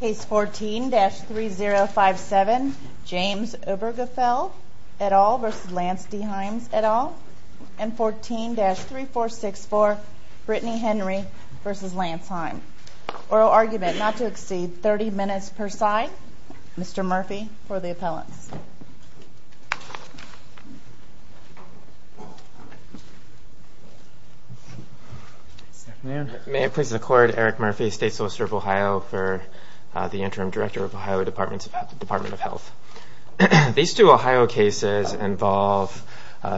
Case 14-3057 James Obergefell et al. v. Lance D. Himes et al. and 14-3464 Brittany Henry v. Lance Himes. Oral argument not to exceed 30 minutes per side. Mr. Murphy for the appellants. May I please record Eric Murphy, State Solicitor of Ohio for the Interim Director of Ohio Department of Health. These two Ohio cases involve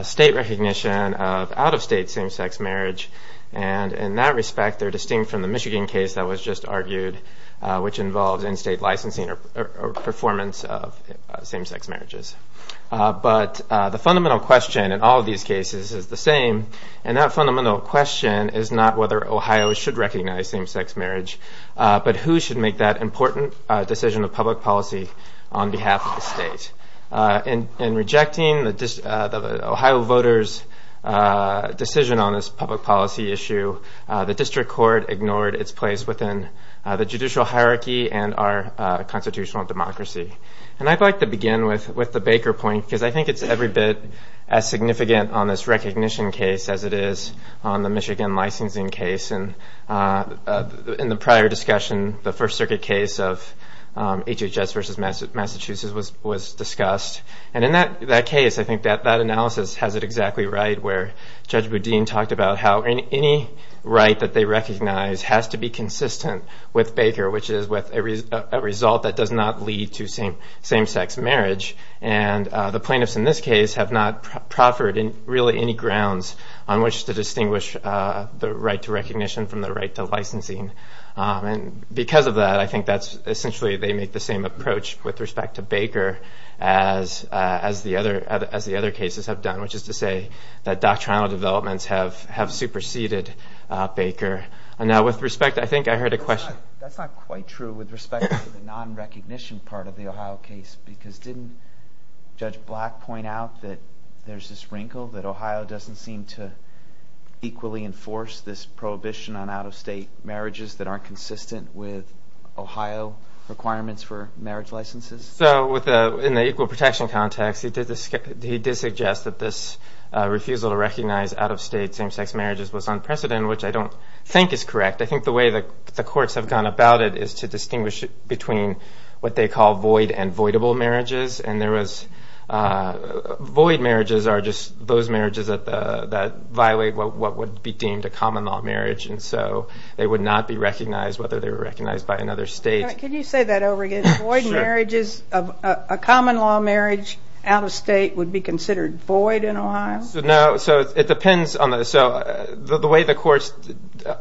state recognition of out-of-state same-sex marriage and in that respect they're distinct from the Michigan case that was just argued which involves in-state licensing or performance of same-sex marriages. But the fundamental question in all of these cases is the same, and that fundamental question is not whether Ohio should recognize same-sex marriage, but who should make that important decision of public policy on behalf of the state. In rejecting the Ohio voters' decision on this public policy issue, the district court ignored its place within the judicial hierarchy and our constitutional democracy. And I'd like to begin with the Baker point because I think it's every bit as significant on this recognition case as it is on the Michigan licensing case. In the prior discussion, the First Circuit case of HHS v. Massachusetts was discussed. And in that case, I think that analysis has it exactly right where Judge Boudin talked about how any right that they recognize has to be consistent with Baker, which is a result that does not lead to same-sex marriage. And the plaintiffs in this case have not proffered really any grounds on which to distinguish the right to recognition from the right to licensing. And because of that, I think that's essentially they make the same approach with respect to Baker as the other cases have done, which is to say that doctrinal developments have superseded Baker. That's not quite true with respect to the non-recognition part of the Ohio case because didn't Judge Black point out that there's this wrinkle that Ohio doesn't seem to equally enforce this prohibition on out-of-state marriages that aren't consistent with Ohio requirements for marriage licenses? In the equal protection context, he did suggest that this refusal to recognize out-of-state same-sex marriages was unprecedented, which I don't think is correct. I think the way the courts have gone about it is to distinguish between what they call void and voidable marriages. And void marriages are just those marriages that violate what would be deemed a common-law marriage. And so they would not be recognized whether they were recognized by another state. Can you say that over again? A common-law marriage out-of-state would be considered void in Ohio? So the way the courts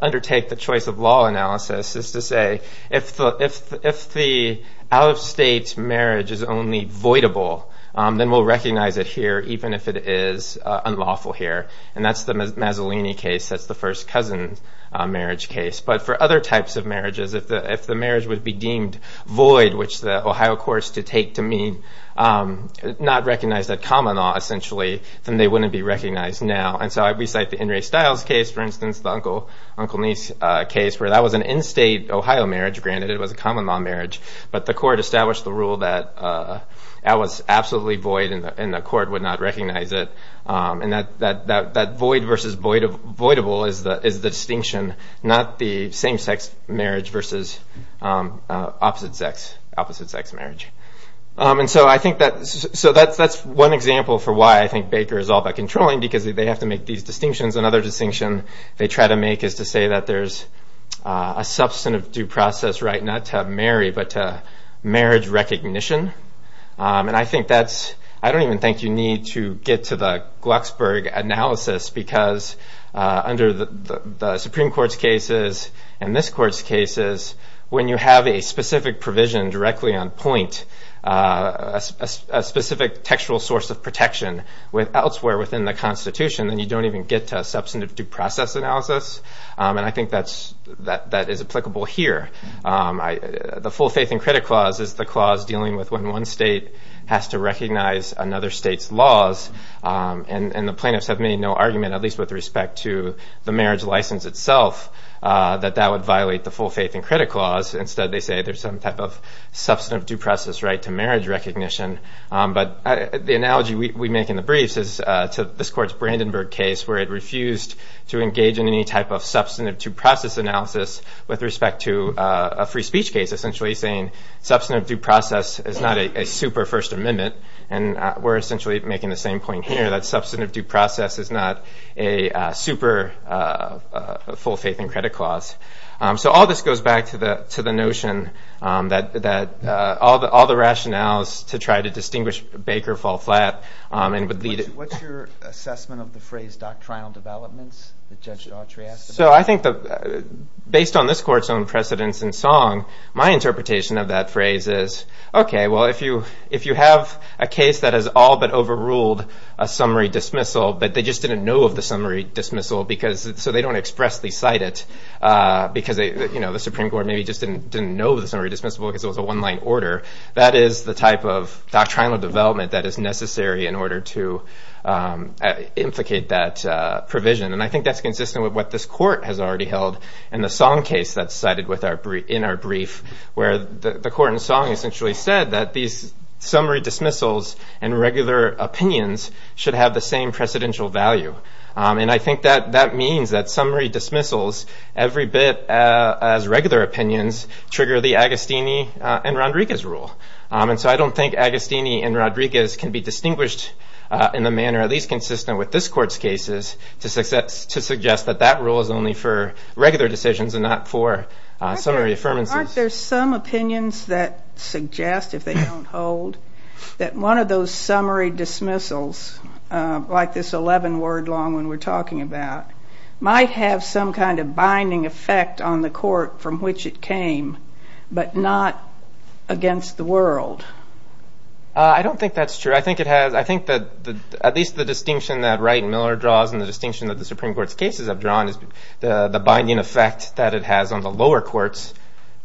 undertake the choice of law analysis is to say if the out-of-state marriage is only voidable, then we'll recognize it here even if it is unlawful here. And that's the Mazzolini case. That's the first cousin marriage case. But for other types of marriages, if the marriage would be deemed void, which the Ohio courts did take to mean not recognize that common-law essentially, then they wouldn't be recognized now. And so we cite the In Re Stiles case, for instance, the uncle-niece case, where that was an in-state Ohio marriage. Granted, it was a common-law marriage. But the court established the rule that that was absolutely void and the court would not recognize it. And that void versus voidable is the distinction, not the same-sex marriage versus opposite-sex marriage. And so I think that's one example for why I think Baker is all about controlling, because they have to make these distinctions. Another distinction they try to make is to say that there's a substantive due process right not to marry, but to marriage recognition. And I don't even think you need to get to the Glucksburg analysis, because under the Supreme Court's cases and this court's cases, when you have a specific provision directly on point, a specific textual source of protection elsewhere within the Constitution, then you don't even get to a substantive due process analysis. And I think that is applicable here. The full faith and credit clause is the clause dealing with when one state has to recognize another state's laws. And the plaintiffs have made no argument, at least with respect to the marriage license itself, that that would violate the full faith and credit clause. Instead, they say there's some type of substantive due process right to marriage recognition. But the analogy we make in the briefs is to this court's Brandenburg case, where it refused to engage in any type of substantive due process analysis with respect to a free speech case, essentially saying substantive due process is not a super First Amendment. And we're essentially making the same point here, that substantive due process is not a super full faith and credit clause. So all this goes back to the notion that all the rationales to try to distinguish Baker fall flat. What's your assessment of the phrase doctrinal developments that Judge Autry asked about? So I think, based on this court's own precedence in song, my interpretation of that phrase is, OK, well, if you have a case that has all but overruled a summary dismissal, but they just didn't know of the summary dismissal so they don't expressly cite it because the Supreme Court maybe just didn't know the summary dismissal because it was a one line order, that is the type of doctrinal development that is necessary in order to implicate that provision. And I think that's consistent with what this court has already held in the song case that's cited in our brief, where the court in song essentially said that these summary dismissals and regular opinions should have the same precedential value. And I think that that means that summary dismissals, every bit as regular opinions, trigger the Agostini and Rodriguez rule. And so I don't think Agostini and Rodriguez can be distinguished in the manner, at least consistent with this court's cases, to suggest that that rule is only for regular decisions and not for summary affirmances. Aren't there some opinions that suggest, if they don't hold, that one of those summary dismissals, like this 11 word long one we're talking about, might have some kind of binding effect on the court from which it came, but not against the world? I don't think that's true. I think that at least the distinction that Wright and Miller draws and the distinction that the Supreme Court's cases have drawn is the binding effect that it has on the lower courts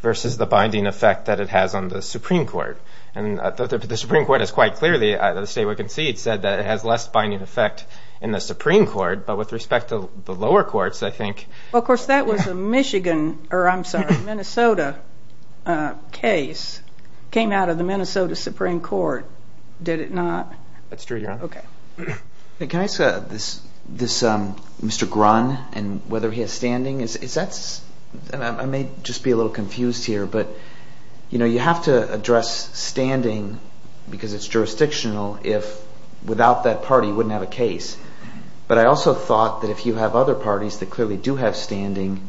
versus the binding effect that it has on the Supreme Court. And the Supreme Court has quite clearly, as we can see, said that it has less binding effect in the Supreme Court. Well, of course, that was a Michigan, or I'm sorry, Minnesota case, came out of the Minnesota Supreme Court, did it not? That's true, Your Honor. Okay. Can I ask this, Mr. Grunn, and whether he has standing? I may just be a little confused here, but you have to address standing because it's jurisdictional if, without that party, you wouldn't have a case. But I also thought that if you have other parties that clearly do have standing,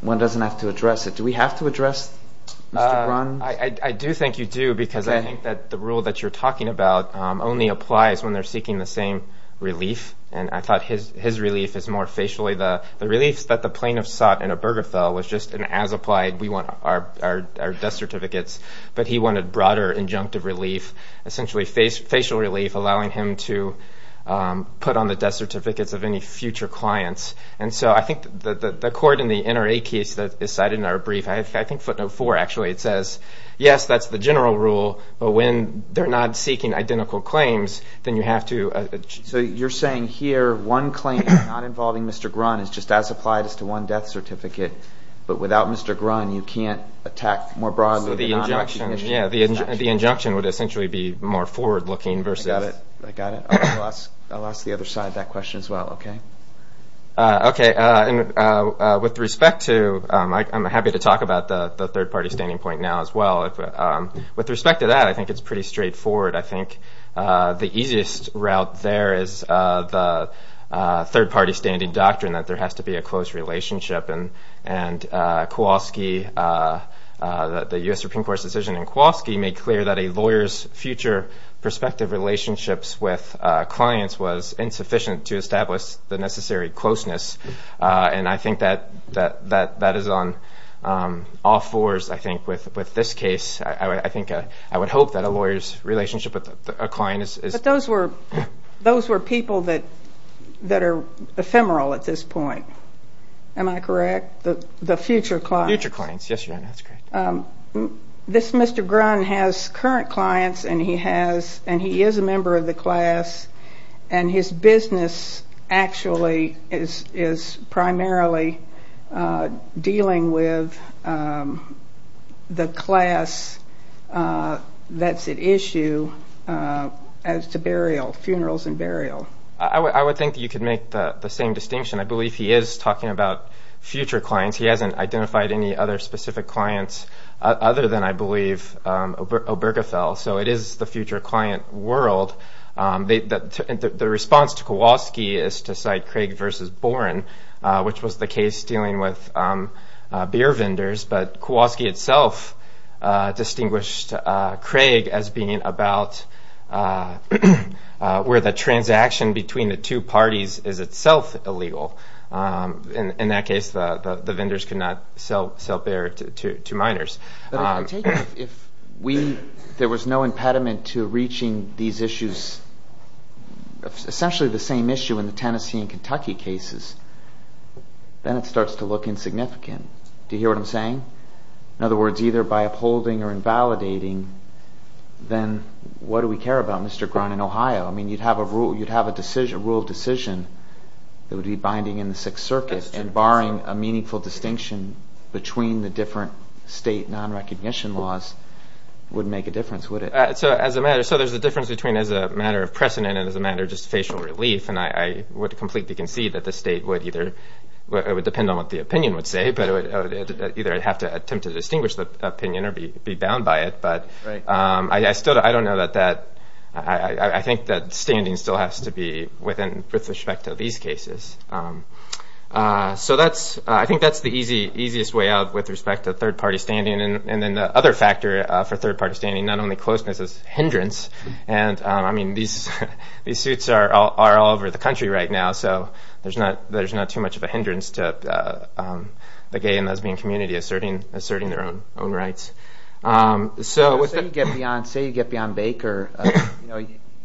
one doesn't have to address it. Do we have to address, Mr. Grunn? I do think you do because I think that the rule that you're talking about only applies when they're seeking the same relief. And I thought his relief is more facially. The relief that the plaintiff sought in Obergefell was just an as-applied, we want our death certificates. But he wanted broader injunctive relief, essentially facial relief, allowing him to put on the death certificates of any future clients. And so I think the court in the NRA case that is cited in our brief, I think footnote 4, actually, it says, yes, that's the general rule, but when they're not seeking identical claims, then you have to. So you're saying here one claim not involving Mr. Grunn is just as applied as to one death certificate, but without Mr. Grunn, you can't attack more broadly the non-injunctive case? Yeah, the injunction would essentially be more forward-looking versus. I got it. I got it. I lost the other side of that question as well. Okay. Okay. And with respect to, I'm happy to talk about the third-party standing point now as well. With respect to that, I think it's pretty straightforward. I think the easiest route there is the third-party standing doctrine that there has to be a close relationship. And Kowalski, the U.S. Supreme Court's decision in Kowalski, made clear that a lawyer's future prospective relationships with clients was insufficient to establish the necessary closeness. And I think that is on all fours, I think, with this case. I think I would hope that a lawyer's relationship with a client is... The future clients. Future clients. Yes, Your Honor. That's correct. This Mr. Grunn has current clients, and he is a member of the class, and his business actually is primarily dealing with the class that's at issue as to burial, funerals and burial. I would think that you could make the same distinction. I believe he is talking about future clients. He hasn't identified any other specific clients other than, I believe, Obergefell. So it is the future client world. The response to Kowalski is to cite Craig v. Boren, which was the case dealing with beer vendors. But Kowalski itself distinguished Craig as being about where the transaction between the two parties is itself illegal. In that case, the vendors could not sell beer to minors. If there was no impediment to reaching these issues, essentially the same issue in the Tennessee and Kentucky cases, then it starts to look insignificant. Do you hear what I'm saying? In other words, either by upholding or invalidating, then what do we care about, Mr. Grunn, in Ohio? I mean, you'd have a rule of decision that would be binding in the Sixth Circuit, and barring a meaningful distinction between the different state non-recognition laws wouldn't make a difference, would it? So there's a difference between as a matter of precedent and as a matter of just facial relief, and I would completely concede that the state would either – it would depend on what the opinion would say, but it would either have to attempt to distinguish the opinion or be bound by it. But I still – I don't know that that – I think that standing still has to be within – with respect to these cases. So that's – I think that's the easiest way out with respect to third-party standing. And then the other factor for third-party standing, not only closeness, is hindrance. And, I mean, these suits are all over the country right now, so there's not too much of a hindrance to the gay and lesbian community asserting their own rights. Say you get beyond Baker,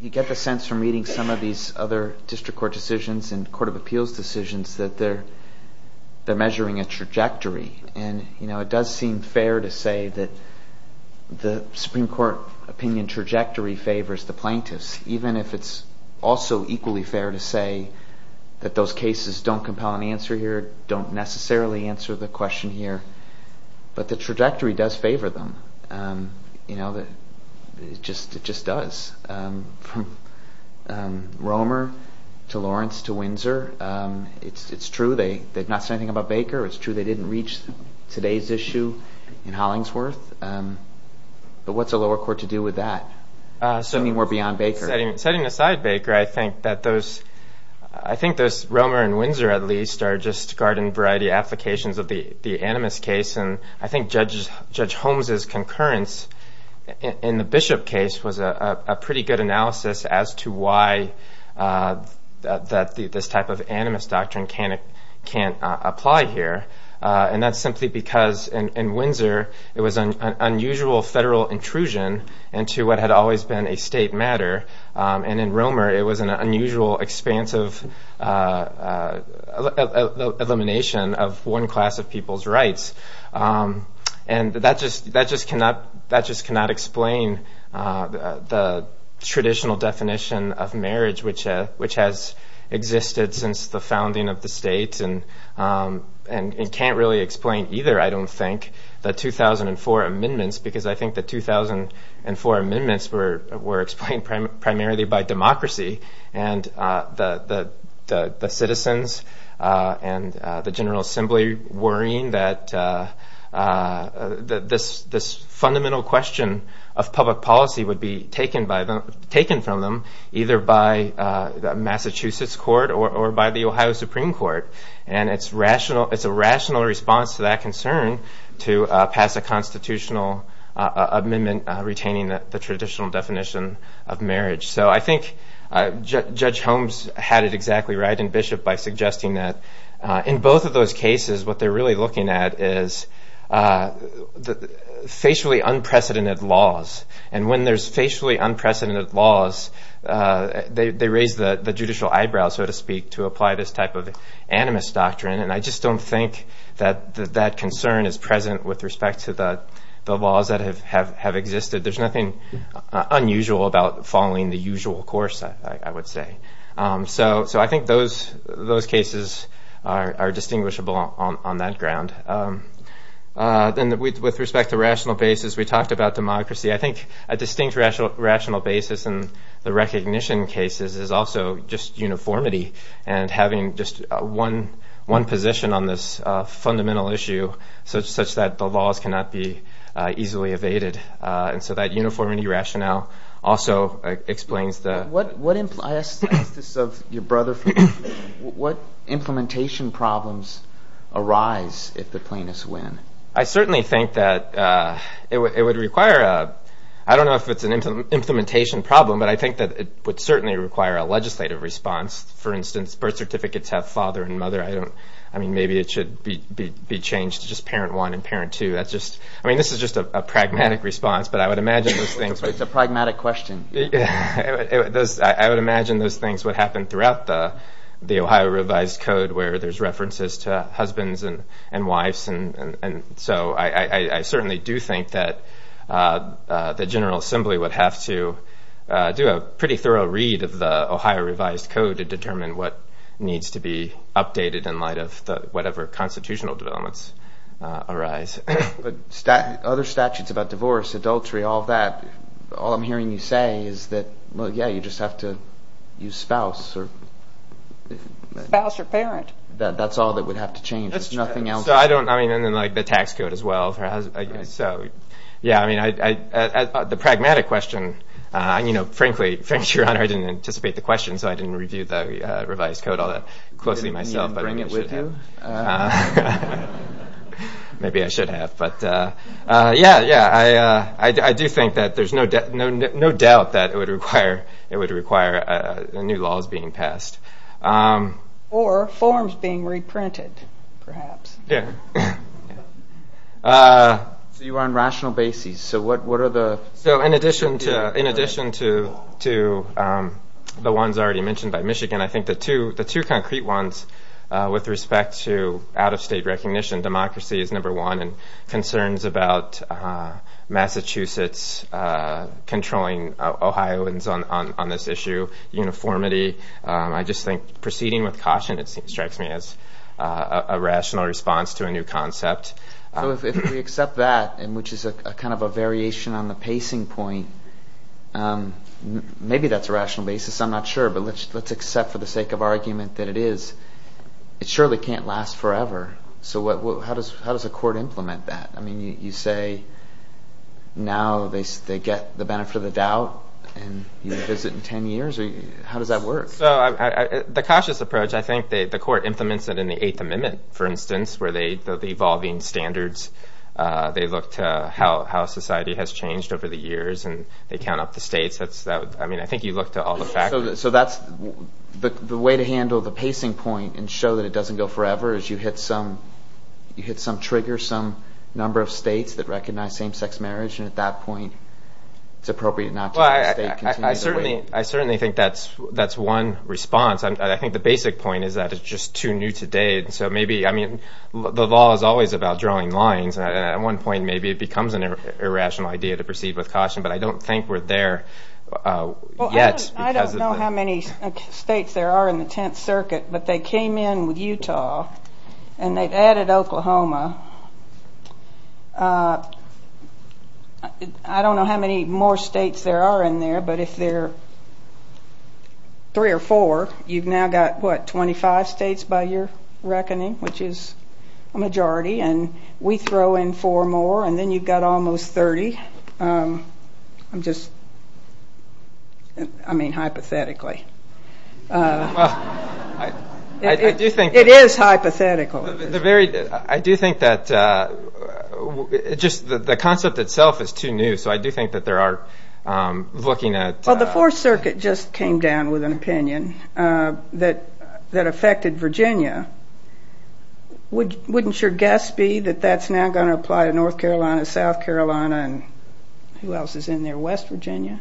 you get the sense from reading some of these other district court decisions and court of appeals decisions that they're measuring a trajectory. And it does seem fair to say that the Supreme Court opinion trajectory favors the plaintiffs, even if it's also equally fair to say that those cases don't compel an answer here, don't necessarily answer the question here. But the trajectory does favor them. It just does. From Romer to Lawrence to Windsor, it's true they've not said anything about Baker. It's true they didn't reach today's issue in Hollingsworth. But what's a lower court to do with that? I mean, we're beyond Baker. Setting aside Baker, I think that those – I think those Romer and Windsor, at least, are just garden-variety applications of the animus case. And I think Judge Holmes' concurrence in the Bishop case was a pretty good analysis as to why this type of animus doctrine can't apply here. And that's simply because in Windsor it was an unusual federal intrusion into what had always been a state matter, and in Romer it was an unusual expansive elimination of one class of people's rights. And that just cannot explain the traditional definition of marriage, which has existed since the founding of the state and can't really explain either, I don't think, the 2004 amendments, because I think the 2004 amendments were explained primarily by democracy and the citizens and the General Assembly worrying that this fundamental question of public policy would be taken from them either by the Massachusetts court or by the Ohio Supreme Court. And it's a rational response to that concern to pass a constitutional amendment retaining the traditional definition of marriage. So I think Judge Holmes had it exactly right in Bishop by suggesting that in both of those cases what they're really looking at is the facially unprecedented laws. And when there's facially unprecedented laws, they raise the judicial eyebrows, so to speak, to apply this type of animus doctrine. And I just don't think that that concern is present with respect to the laws that have existed. There's nothing unusual about following the usual course, I would say. So I think those cases are distinguishable on that ground. Then with respect to rational basis, we talked about democracy. I think a distinct rational basis in the recognition cases is also just uniformity and having just one position on this fundamental issue such that the laws cannot be easily evaded. And so that uniformity rationale also explains the... What implementation problems arise if the plaintiffs win? I certainly think that it would require a... I don't know if it's an implementation problem, but I think that it would certainly require a legislative response. For instance, birth certificates have father and mother. I mean, maybe it should be changed to just parent one and parent two. I mean, this is just a pragmatic response, but I would imagine those things... It's a pragmatic question. I would imagine those things would happen throughout the Ohio Revised Code where there's references to husbands and wives. And so I certainly do think that the General Assembly would have to do a pretty thorough read of the Ohio Revised Code to determine what needs to be updated in light of whatever constitutional developments arise. But other statutes about divorce, adultery, all that, all I'm hearing you say is that, well, yeah, you just have to use spouse or... Spouse or parent. That's all that would have to change. That's true. There's nothing else. So I don't... I mean, and then, like, the tax code as well for... Right. So, yeah, I mean, the pragmatic question, you know, frankly, Your Honor, I didn't anticipate the question, so I didn't review the revised code all that closely myself. Did you bring it with you? Maybe I should have. But, yeah, yeah, I do think that there's no doubt that it would require new laws being passed. Or forms being reprinted, perhaps. Yeah. So you're on rational basis. So what are the... So in addition to the ones already mentioned by Michigan, I think the two concrete ones with respect to out-of-state recognition, democracy is number one, and concerns about Massachusetts controlling Ohioans on this issue, uniformity. I just think proceeding with caution, it strikes me as a rational response to a new concept. So if we accept that, which is kind of a variation on the pacing point, maybe that's a rational basis. I'm not sure. But let's accept for the sake of argument that it is. It surely can't last forever. So how does a court implement that? I mean, you say now they get the benefit of the doubt and use it in 10 years. How does that work? So the cautious approach, I think the court implements it in the Eighth Amendment, for instance, where the evolving standards, they look to how society has changed over the years, and they count up the states. I mean, I think you look to all the factors. So the way to handle the pacing point and show that it doesn't go forever is you hit some trigger, some number of states that recognize same-sex marriage, and at that point it's appropriate not to have the state continue to wait. I certainly think that's one response. I think the basic point is that it's just too new today. So maybe, I mean, the law is always about drawing lines, and at one point maybe it becomes an irrational idea to proceed with caution, but I don't think we're there yet. I don't know how many states there are in the Tenth Circuit, but they came in with Utah and they've added Oklahoma. I don't know how many more states there are in there, but if there are three or four, you've now got, what, 25 states by your reckoning, which is a majority, and we throw in four more, and then you've got almost 30. I'm just, I mean, hypothetically. It is hypothetical. I do think that just the concept itself is too new, so I do think that there are looking at— Well, the Fourth Circuit just came down with an opinion that affected Virginia. Wouldn't your guess be that that's now going to apply to North Carolina, South Carolina, and who else is in there, West Virginia?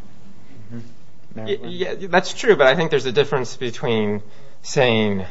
That's true, but I think there's a difference between saying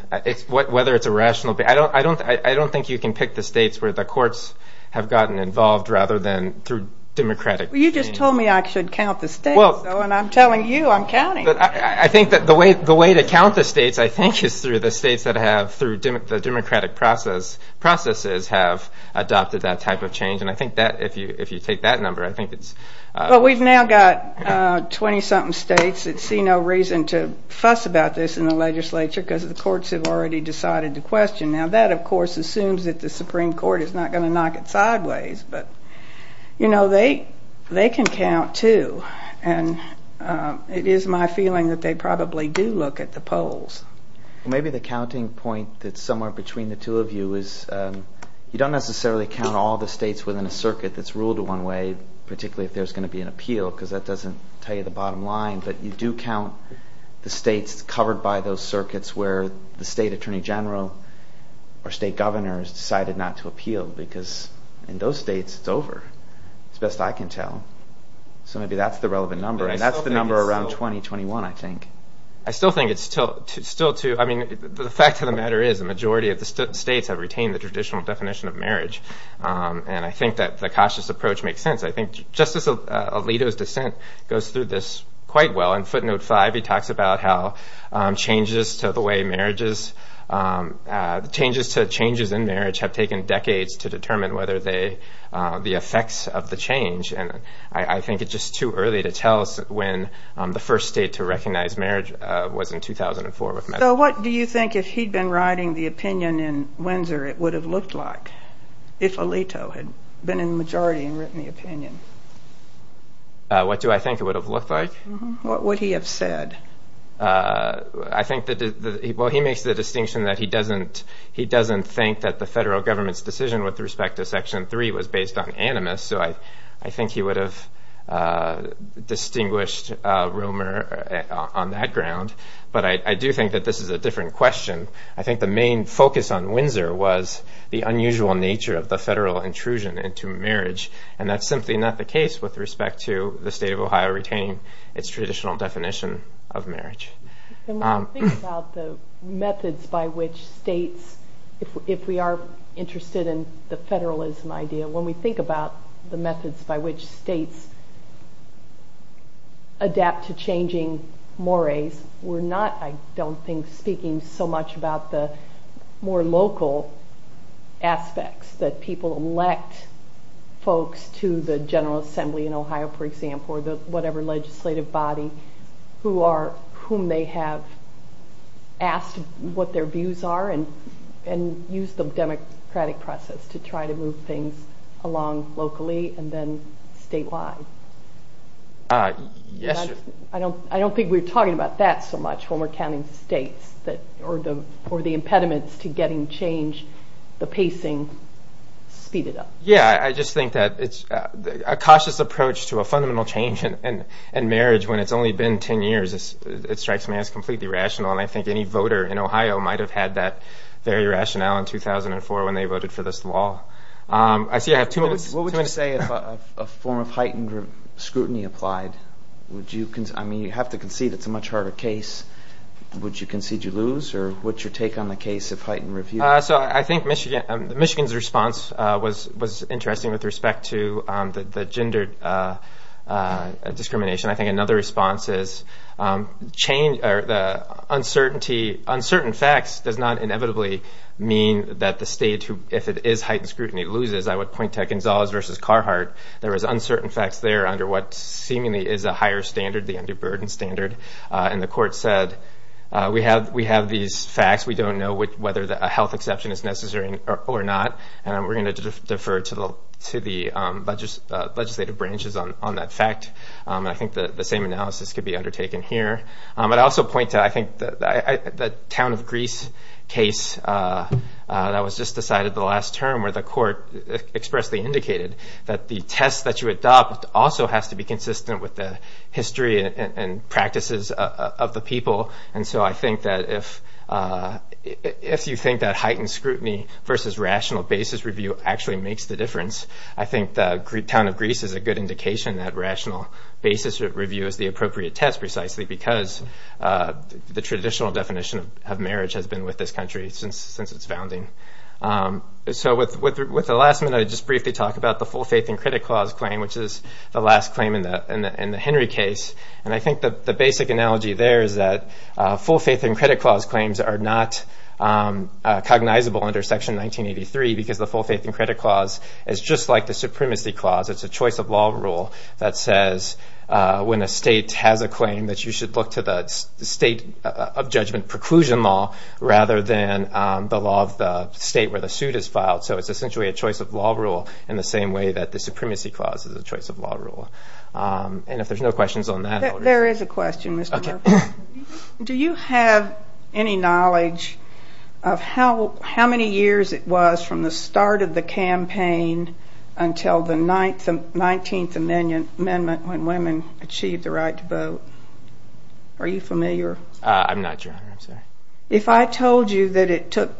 whether it's a rational— I don't think you can pick the states where the courts have gotten involved rather than through democratic— Well, you just told me I should count the states, though, and I'm telling you I'm counting. I think that the way to count the states, I think, is through the states that have, through the democratic processes, have adopted that type of change, and I think that if you take that number, I think it's— Well, we've now got 20-something states that see no reason to fuss about this in the legislature because the courts have already decided to question. Now, that, of course, assumes that the Supreme Court is not going to knock it sideways, but, you know, they can count, too, and it is my feeling that they probably do look at the polls. Maybe the counting point that's somewhere between the two of you is you don't necessarily count all the states within a circuit that's ruled one way, particularly if there's going to be an appeal, because that doesn't tell you the bottom line, but you do count the states covered by those circuits where the state attorney general or state governor has decided not to appeal because in those states, it's over, as best I can tell. So maybe that's the relevant number, and that's the number around 2021, I think. I still think it's still too—I mean, the fact of the matter is the majority of the states have retained the traditional definition of marriage, and I think that the cautious approach makes sense. I think Justice Alito's dissent goes through this quite well. In footnote 5, he talks about how changes to the way marriages— changes to changes in marriage have taken decades to determine whether they—the effects of the change, and I think it's just too early to tell us when the first state to recognize marriage was in 2004. So what do you think if he'd been writing the opinion in Windsor it would have looked like if Alito had been in the majority and written the opinion? What do I think it would have looked like? What would he have said? I think that—well, he makes the distinction that he doesn't think that the federal government's decision with respect to Section 3 was based on animus, so I think he would have distinguished Romer on that ground, but I do think that this is a different question. I think the main focus on Windsor was the unusual nature of the federal intrusion into marriage, and that's simply not the case with respect to the state of Ohio retaining its traditional definition of marriage. When we think about the methods by which states—if we are interested in the federalism idea, when we think about the methods by which states adapt to changing mores, we're not, I don't think, speaking so much about the more local aspects, that people elect folks to the General Assembly in Ohio, for example, or whatever legislative body whom they have asked what their views are and use the democratic process to try to move things along locally and then statewide. I don't think we're talking about that so much, or the impediments to getting change, the pacing, speed it up. Yeah, I just think that it's a cautious approach to a fundamental change in marriage when it's only been 10 years. It strikes me as completely rational, and I think any voter in Ohio might have had that very rationale in 2004 when they voted for this law. What would you say if a form of heightened scrutiny applied? I mean, you have to concede it's a much harder case. Would you concede you lose, or what's your take on the case of heightened review? I think Michigan's response was interesting with respect to the gender discrimination. I think another response is uncertainty. Uncertain facts does not inevitably mean that the state, if it is heightened scrutiny, loses. I would point to Gonzales v. Carhartt. There was uncertain facts there under what seemingly is a higher standard, the underburden standard, and the court said we have these facts. We don't know whether a health exception is necessary or not, and we're going to defer to the legislative branches on that fact. I think the same analysis could be undertaken here. But I also point to, I think, the town of Greece case that was just decided the last term where the court expressly indicated that the test that you adopt also has to be consistent with the history and practices of the people. And so I think that if you think that heightened scrutiny versus rational basis review actually makes the difference, I think the town of Greece is a good indication that rational basis review is the appropriate test precisely because the traditional definition of marriage has been with this country since its founding. So with the last minute, I'll just briefly talk about the full faith and credit clause claim, which is the last claim in the Henry case. And I think the basic analogy there is that full faith and credit clause claims are not cognizable under Section 1983 because the full faith and credit clause is just like the supremacy clause. It's a choice of law rule that says when a state has a claim that you should look to the state of judgment preclusion law rather than the law of the state where the suit is filed. So it's essentially a choice of law rule in the same way that the supremacy clause is a choice of law rule. And if there's no questions on that. There is a question, Mr. Murphy. Do you have any knowledge of how many years it was from the start of the campaign until the 19th Amendment when women achieved the right to vote? Are you familiar? I'm not, Your Honor. If I told you that it took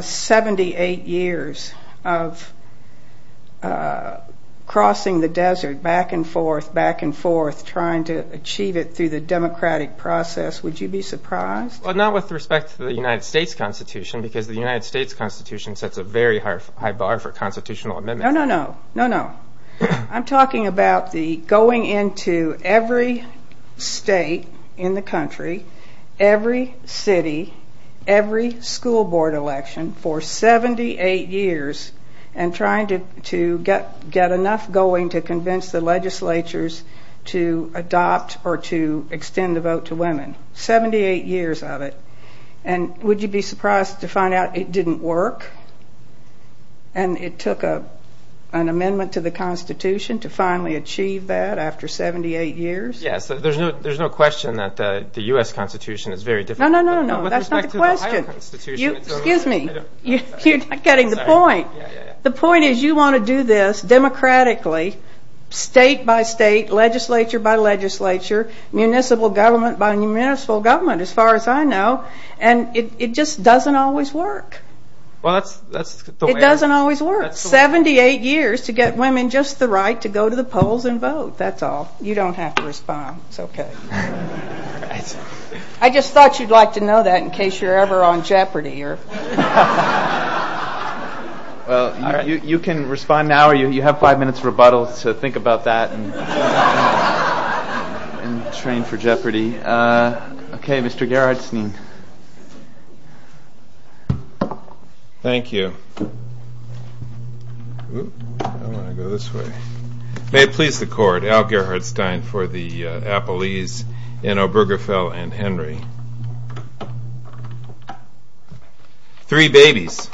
78 years of crossing the desert back and forth, back and forth, trying to achieve it through the democratic process, would you be surprised? Well, not with respect to the United States Constitution because the United States Constitution sets a very high bar for constitutional amendment. No, no, no. I'm talking about the going into every state in the country, every city, every school board election for 78 years and trying to get enough going to convince the legislatures to adopt or to extend the vote to women. 78 years of it. And would you be surprised to find out it didn't work? And it took an amendment to the Constitution to finally achieve that after 78 years? Yes. There's no question that the U.S. Constitution is very difficult. No, no, no, no. That's not the question. Excuse me. You're not getting the point. The point is you want to do this democratically, state by state, legislature by legislature, municipal government by municipal government, as far as I know, and it just doesn't always work. It doesn't always work. 78 years to get women just the right to go to the polls and vote. That's all. You don't have to respond. It's okay. I just thought you'd like to know that in case you're ever on Jeopardy. You can respond now or you have five minutes rebuttal to think about that and train for Jeopardy. Okay, Mr. Gerhardstein. Thank you. I want to go this way. May it please the court. Al Gerhardstein for the Appellees in Obergefell and Henry. Three babies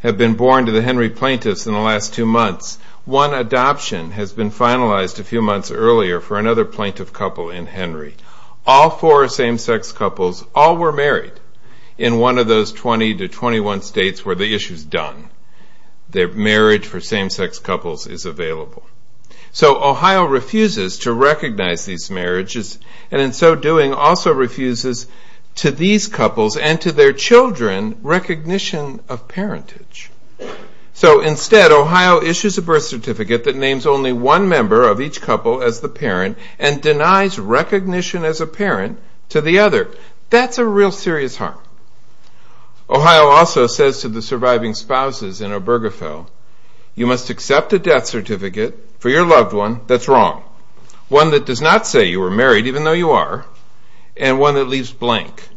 have been born to the Henry plaintiffs in the last two months. One adoption has been finalized a few months earlier for another plaintiff couple in Henry. All four same-sex couples all were married in one of those 20 to 21 states where the issue is done. Marriage for same-sex couples is available. So Ohio refuses to recognize these marriages and in so doing also refuses to these couples and to their children recognition of parentage. So instead, Ohio issues a birth certificate that names only one member of each couple as the parent and denies recognition as a parent to the other. That's a real serious harm. Ohio also says to the surviving spouses in Obergefell, you must accept a death certificate for your loved one that's wrong, one that does not say you were married even though you are, and one that leaves blank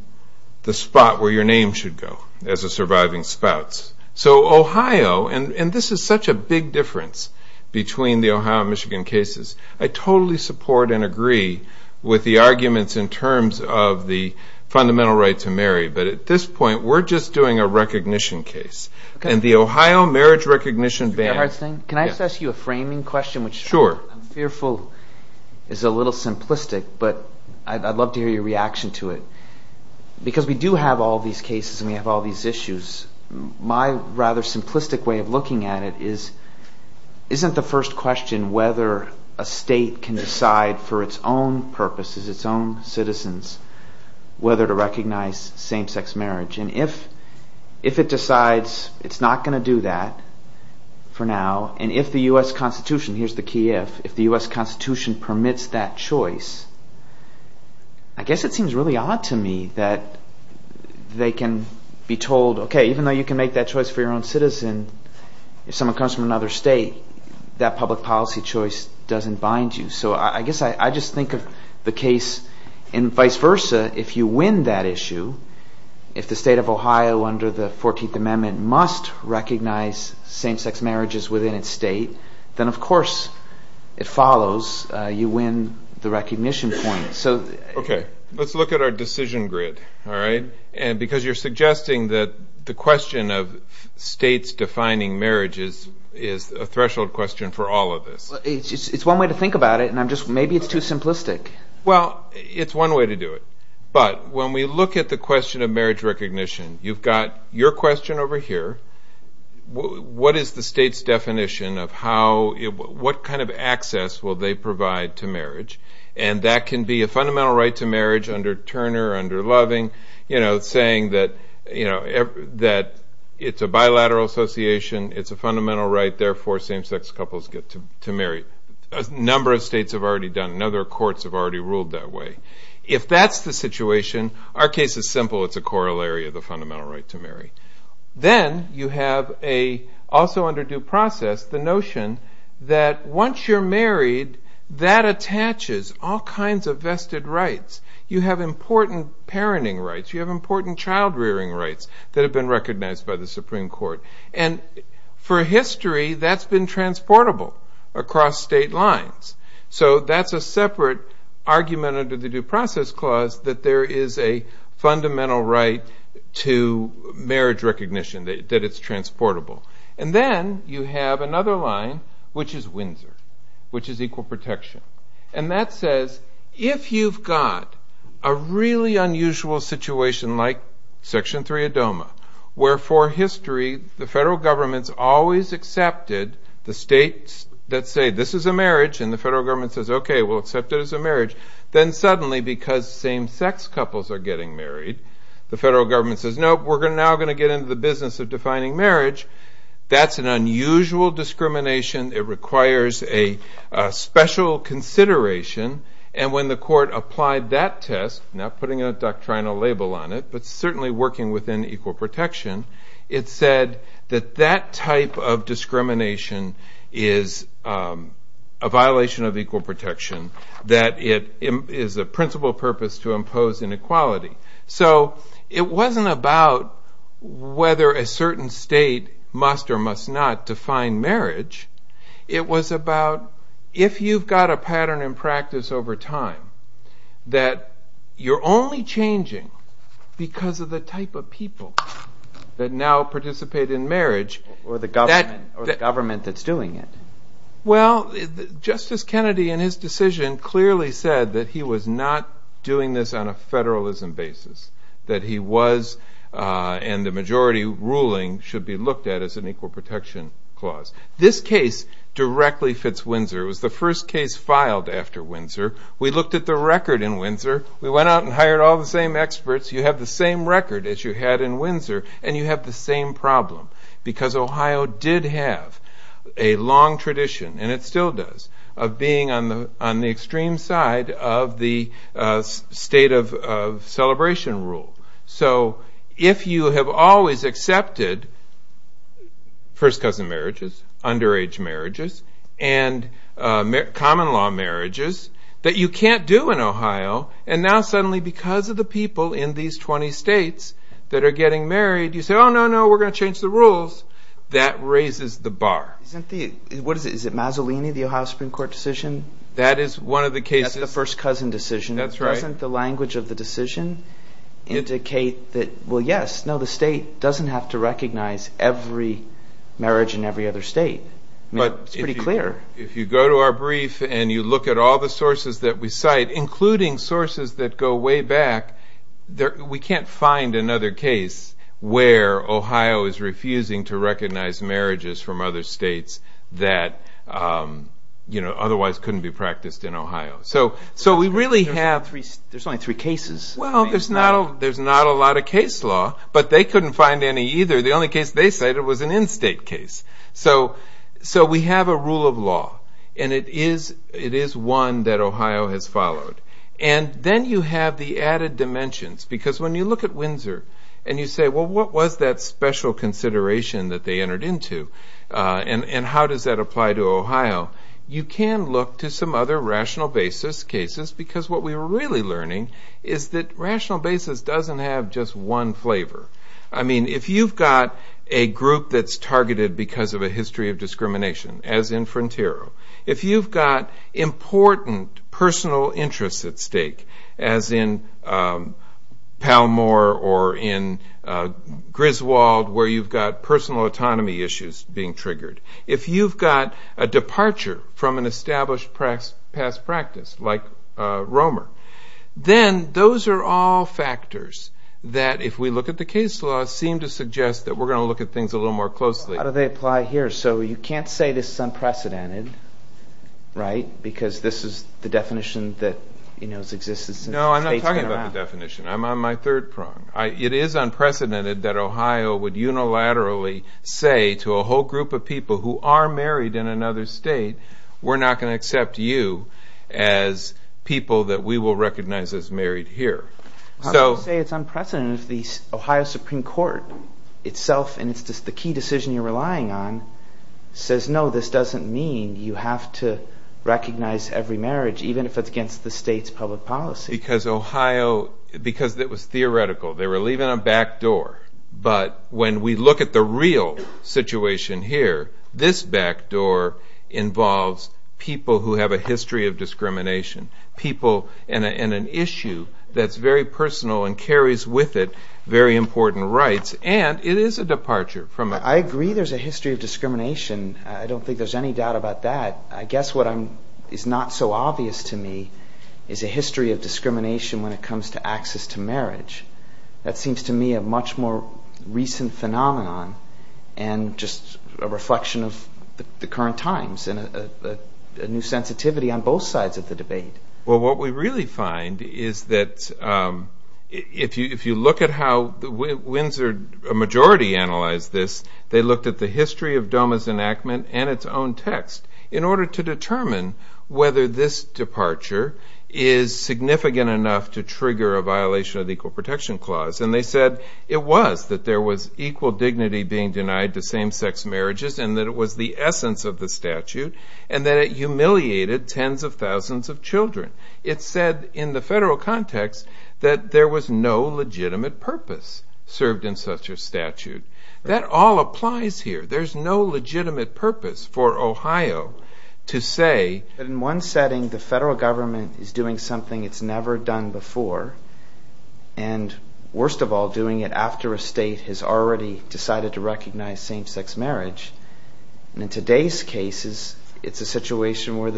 the spot where your name should go as a surviving spouse. So Ohio, and this is such a big difference between the Ohio and Michigan cases, I totally support and agree with the arguments in terms of the fundamental right to marry, but at this point we're just doing a recognition case. And the Ohio marriage recognition ban. May I ask you a framing question? Sure. I'm fearful is a little simplistic, but I'd love to hear your reaction to it. Because we do have all these cases and we have all these issues, my rather simplistic way of looking at it is, isn't the first question whether a state can decide for its own purposes, its own citizens, whether to recognize same-sex marriage? And if it decides it's not going to do that for now, and if the U.S. Constitution, here's the key if, if the U.S. Constitution permits that choice, I guess it seems really odd to me that they can be told, okay, even though you can make that choice for your own citizen, if someone comes from another state, that public policy choice doesn't bind you. So I guess I just think of the case and vice versa, if you win that issue, if the state of Ohio under the 14th Amendment must recognize same-sex marriages within its state, then of course it follows you win the recognition point. Okay, let's look at our decision grid, all right? Because you're suggesting that the question of states defining marriages is a threshold question for all of this. It's one way to think about it, and maybe it's too simplistic. Well, it's one way to do it. But when we look at the question of marriage recognition, you've got your question over here. What is the state's definition of how, what kind of access will they provide to marriage? And that can be a fundamental right to marriage under Turner, under Loving, saying that it's a bilateral association, it's a fundamental right, therefore same-sex couples get to marry. A number of states have already done it, and other courts have already ruled that way. If that's the situation, our case is simple, it's a corollary of the fundamental right to marry. Then you have also under due process the notion that once you're married, that attaches all kinds of vested rights. You have important parenting rights, you have important child-rearing rights that have been recognized by the Supreme Court. And for history, that's been transportable across state lines. So that's a separate argument under the due process clause that there is a fundamental right to marriage recognition, that it's transportable. And then you have another line, which is Windsor, which is equal protection. And that says if you've got a really unusual situation like Section 3 of DOMA, where for history the federal governments always accepted the states that say this is a marriage, and the federal government says, okay, we'll accept it as a marriage. Then suddenly, because same-sex couples are getting married, the federal government says, nope, we're now going to get into the business of defining marriage. That's an unusual discrimination. It requires a special consideration. And when the court applied that test, not putting a doctrinal label on it, but certainly working within equal protection, it said that that type of discrimination is a violation of equal protection, that it is the principal purpose to impose inequality. So it wasn't about whether a certain state must or must not define marriage. It was about if you've got a pattern in practice over time that you're only changing because of the type of people that now participate in marriage. Or the government that's doing it. Well, Justice Kennedy in his decision clearly said that he was not doing this on a federalism basis, that he was and the majority ruling should be looked at as an equal protection clause. This case directly fits Windsor. It was the first case filed after Windsor. We looked at the record in Windsor. We went out and hired all the same experts. You have the same record as you had in Windsor, and you have the same problem. Because Ohio did have a long tradition, and it still does, of being on the extreme side of the state of celebration rule. So if you have always accepted first cousin marriages, underage marriages, and common law marriages that you can't do in Ohio, and now suddenly because of the people in these 20 states that are getting married, you say, oh, no, no, we're going to change the rules. That raises the bar. Is it Mazzolini, the Ohio Supreme Court decision? That is one of the cases. That's the first cousin decision. Doesn't the language of the decision indicate that, well, yes, no, the state doesn't have to recognize every marriage in every other state? It's pretty clear. If you go to our brief and you look at all the sources that we cite, including sources that go way back, we can't find another case where Ohio is refusing to recognize marriages from other states that otherwise couldn't be practiced in Ohio. So we really have three ñ there's only three cases. Well, there's not a lot of case law, but they couldn't find any either. The only case they cited was an in-state case. So we have a rule of law, and it is one that Ohio has followed. Then you have the added dimensions because when you look at Windsor and you say, well, what was that special consideration that they entered into and how does that apply to Ohio? You can look to some other rational basis cases because what we're really learning is that rational basis doesn't have just one flavor. I mean, if you've got a group that's targeted because of a history of discrimination, as in Frontiero, if you've got important personal interests at stake, as in Palmore or in Griswold where you've got personal autonomy issues being triggered, if you've got a departure from an established past practice like Romer, then those are all factors that, if we look at the case law, seem to suggest that we're going to look at things a little more closely. How do they apply here? So you can't say this is unprecedented, right, because this is the definition that has existed since the state's been around. No, I'm not talking about the definition. I'm on my third prong. It is unprecedented that Ohio would unilaterally say to a whole group of people who are married in another state, we're not going to accept you as people that we will recognize as married here. I wouldn't say it's unprecedented if the Ohio Supreme Court itself, and it's the key decision you're relying on, says no, this doesn't mean you have to recognize every marriage, even if it's against the state's public policy. Because Ohio, because it was theoretical. They were leaving a back door, but when we look at the real situation here, this back door involves people who have a history of discrimination, people in an issue that's very personal and carries with it very important rights, and it is a departure from... I agree there's a history of discrimination. I don't think there's any doubt about that. I guess what is not so obvious to me is a history of discrimination when it comes to access to marriage. That seems to me a much more recent phenomenon and just a reflection of the current times and a new sensitivity on both sides of the debate. Well, what we really find is that if you look at how the Windsor majority analyzed this, they looked at the history of DOMA's enactment and its own text in order to determine whether this departure is significant enough to trigger a violation of the Equal Protection Clause. And they said it was, that there was equal dignity being denied to same-sex marriages and that it was the essence of the statute, and that it humiliated tens of thousands of children. It said in the federal context that there was no legitimate purpose served in such a statute. That all applies here. There's no legitimate purpose for Ohio to say... In one setting, the federal government is doing something it's never done before and, worst of all, doing it after a state has already decided to recognize same-sex marriage. In today's cases, it's a situation where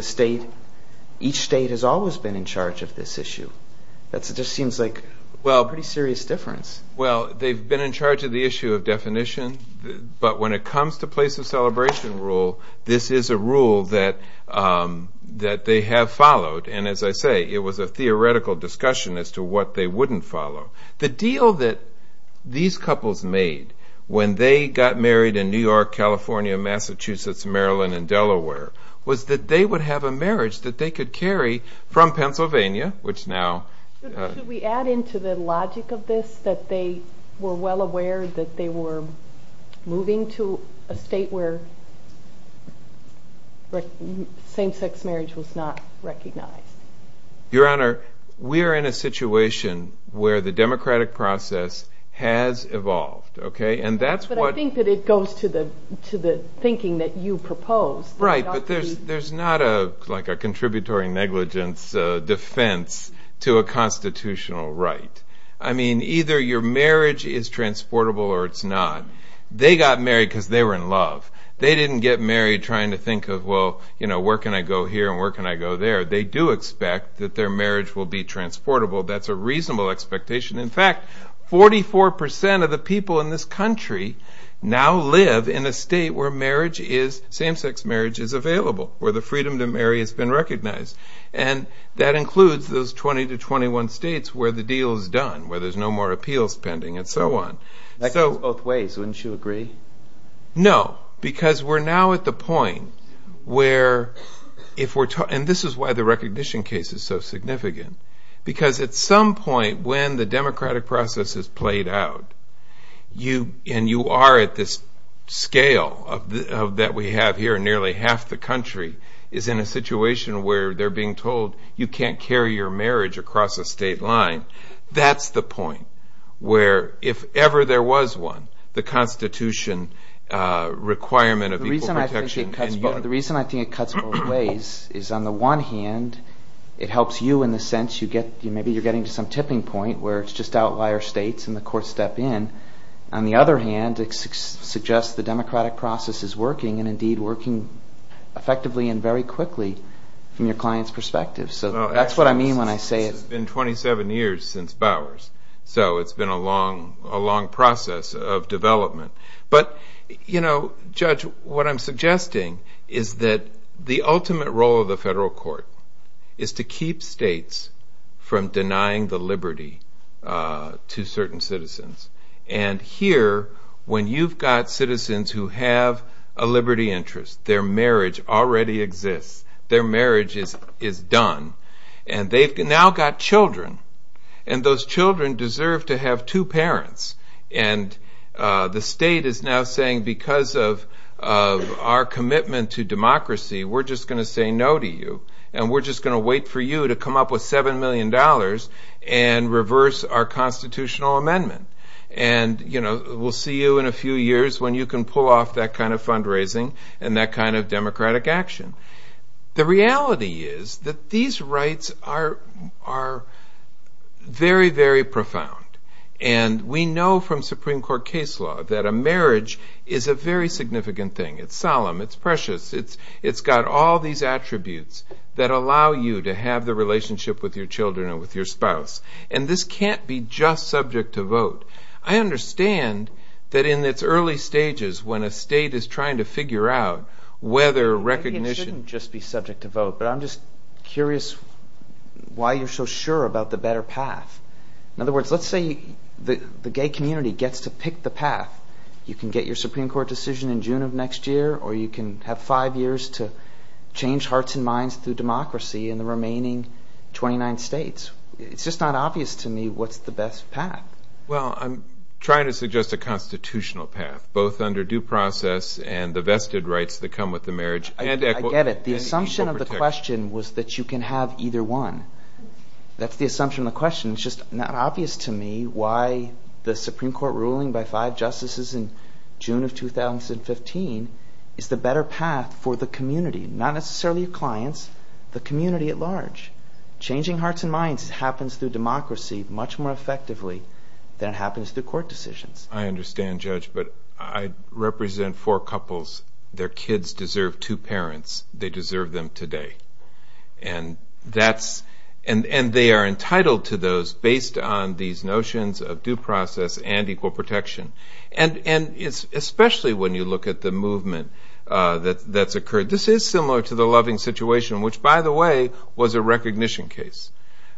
each state has always been in charge of this issue. That just seems like a pretty serious difference. Well, they've been in charge of the issue of definition, but when it comes to place of celebration rule, this is a rule that they have followed. And as I say, it was a theoretical discussion as to what they wouldn't follow. The deal that these couples made when they got married in New York, California, Massachusetts, Maryland, and Delaware was that they would have a marriage that they could carry from Pennsylvania, which now... Should we add into the logic of this that they were well aware that they were moving to a state where same-sex marriage was not recognized? Your Honor, we are in a situation where the democratic process has evolved. But I think that it goes to the thinking that you propose. Right, but there's not a contributory negligence defense to a constitutional right. I mean, either your marriage is transportable or it's not. They got married because they were in love. They didn't get married trying to think of, well, where can I go here and where can I go there? They do expect that their marriage will be transportable. That's a reasonable expectation. In fact, 44% of the people in this country now live in a state where same-sex marriage is available, where the freedom to marry has been recognized. And that includes those 20 to 21 states where the deal is done, where there's no more appeals pending and so on. That goes both ways, wouldn't you agree? No, because we're now at the point where, and this is why the recognition case is so significant, because at some point when the democratic process has played out, and you are at this scale that we have here, nearly half the country is in a situation where they're being told you can't carry your marriage across a state line. That's the point where, if ever there was one, the constitution requirement of equal protection. The reason I think it cuts both ways is, on the one hand, it helps you in the sense you get, maybe you're getting to some tipping point where it's just outlier states and the courts step in. On the other hand, it suggests the democratic process is working and indeed working effectively and very quickly from your client's perspective. So that's what I mean when I say it. It's been 27 years since Bowers, so it's been a long process of development. But, you know, Judge, what I'm suggesting is that the ultimate role of the federal court is to keep states from denying the liberty to certain citizens. And here, when you've got citizens who have a liberty interest, their marriage already exists, their marriage is done, and they've now got children, and those children deserve to have two parents, and the state is now saying, because of our commitment to democracy, we're just going to say no to you, and we're just going to wait for you to come up with $7 million and reverse our constitutional amendment. And, you know, we'll see you in a few years when you can pull off that kind of fundraising and that kind of democratic action. The reality is that these rights are very, very profound. And we know from Supreme Court case law that a marriage is a very significant thing. It's solemn, it's precious, it's got all these attributes that allow you to have the relationship with your children or with your spouse. And this can't be just subject to vote. I understand that in its early stages, when a state is trying to figure out whether recognition... Maybe it shouldn't just be subject to vote, but I'm just curious why you're so sure about the better path. In other words, let's say the gay community gets to pick the path. You can get your Supreme Court decision in June of next year, or you can have five years to change hearts and minds through democracy in the remaining 29 states. It's just not obvious to me what's the best path. Well, I'm trying to suggest a constitutional path, both under due process and the vested rights that come with the marriage and equal protection. I get it. The assumption of the question was that you can have either one. That's the assumption of the question. It's just not obvious to me why the Supreme Court ruling by five justices in June of 2015 is the better path for the community. Not necessarily clients, the community at large. Changing hearts and minds happens through democracy much more effectively than it happens through court decisions. I understand, Judge, but I represent four couples. Their kids deserve two parents. They deserve them today. And they are entitled to those based on these notions of due process and equal protection, especially when you look at the movement that's occurred. This is similar to the Loving situation, which, by the way, was a recognition case.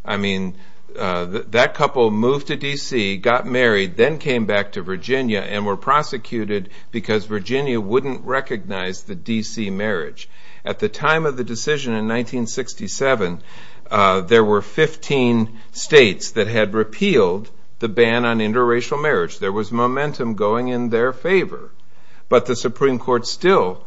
I mean, that couple moved to D.C., got married, then came back to Virginia and were prosecuted because Virginia wouldn't recognize the D.C. marriage. At the time of the decision in 1967, there were 15 states that had repealed the ban on interracial marriage. There was momentum going in their favor. But the Supreme Court still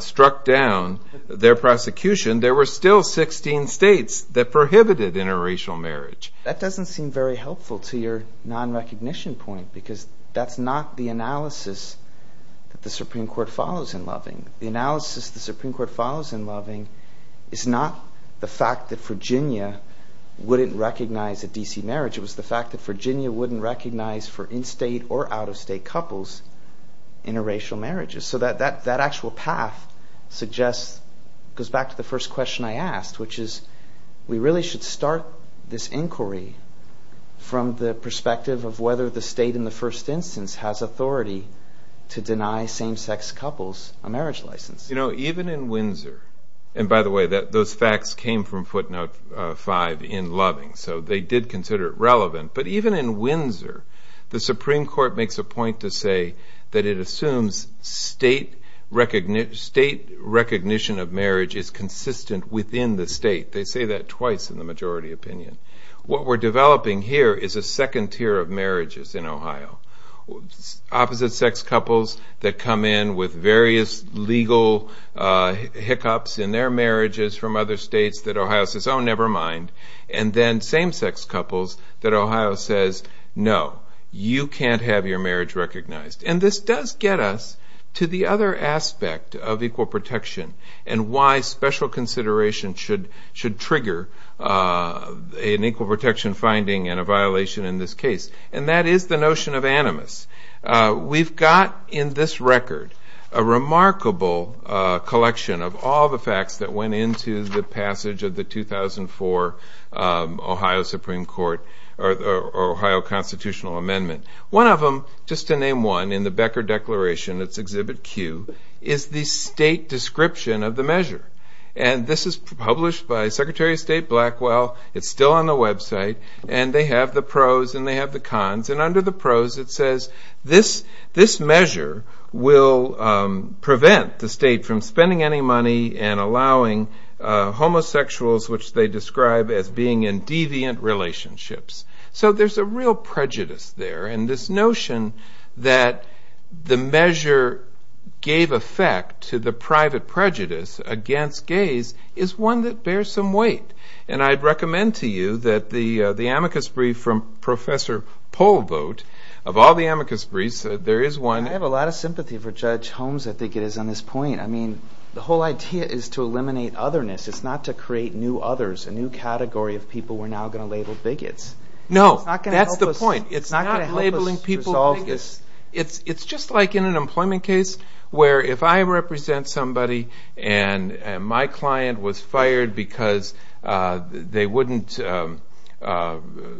struck down their prosecution. There were still 16 states that prohibited interracial marriage. That doesn't seem very helpful to your nonrecognition point because that's not the analysis that the Supreme Court follows in Loving. The analysis the Supreme Court follows in Loving is not the fact that Virginia wouldn't recognize a D.C. marriage. It was the fact that Virginia wouldn't recognize, for in-state or out-of-state couples, interracial marriages. So that actual path goes back to the first question I asked, which is we really should start this inquiry from the perspective of whether the state in the first instance has authority to deny same-sex couples a marriage license. You know, even in Windsor, and by the way, those facts came from footnote 5 in Loving, so they did consider it relevant. But even in Windsor, the Supreme Court makes a point to say that it assumes state recognition of marriage is consistent within the state. They say that twice in the majority opinion. Opposite-sex couples that come in with various legal hiccups in their marriages from other states that Ohio says, oh, never mind. And then same-sex couples that Ohio says, no, you can't have your marriage recognized. And this does get us to the other aspect of equal protection and why special consideration should trigger an equal protection finding and a violation in this case. And that is the notion of animus. We've got in this record a remarkable collection of all the facts that went into the passage of the 2004 Ohio Constitutional Amendment. One of them, just to name one, in the Becker Declaration, it's Exhibit Q, is the state description of the measure. And this is published by Secretary of State Blackwell. It's still on the website. And they have the pros and they have the cons. And under the pros it says this measure will prevent the state from spending any money and allowing homosexuals, which they describe as being in deviant relationships. So there's a real prejudice there. And this notion that the measure gave effect to the private prejudice against gays is one that bears some weight. And I'd recommend to you that the amicus brief from Professor Polvote, of all the amicus briefs, there is one. I have a lot of sympathy for Judge Holmes, I think it is, on this point. I mean, the whole idea is to eliminate otherness. It's not to create new others, a new category of people we're now going to label bigots. No, that's the point. It's not labeling people bigots. It's just like in an employment case where if I represent somebody and my client was fired because they wouldn't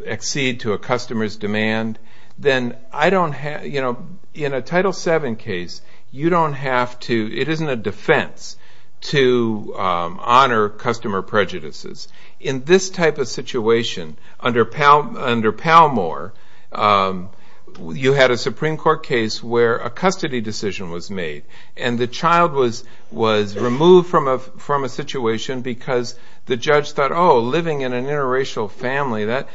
exceed to a customer's demand, then I don't have, you know, in a Title VII case, you don't have to, it isn't a defense to honor customer prejudices. In this type of situation, under Palmore, you had a Supreme Court case where a custody decision was made. And the child was removed from a situation because the judge thought, oh, living in an interracial family, that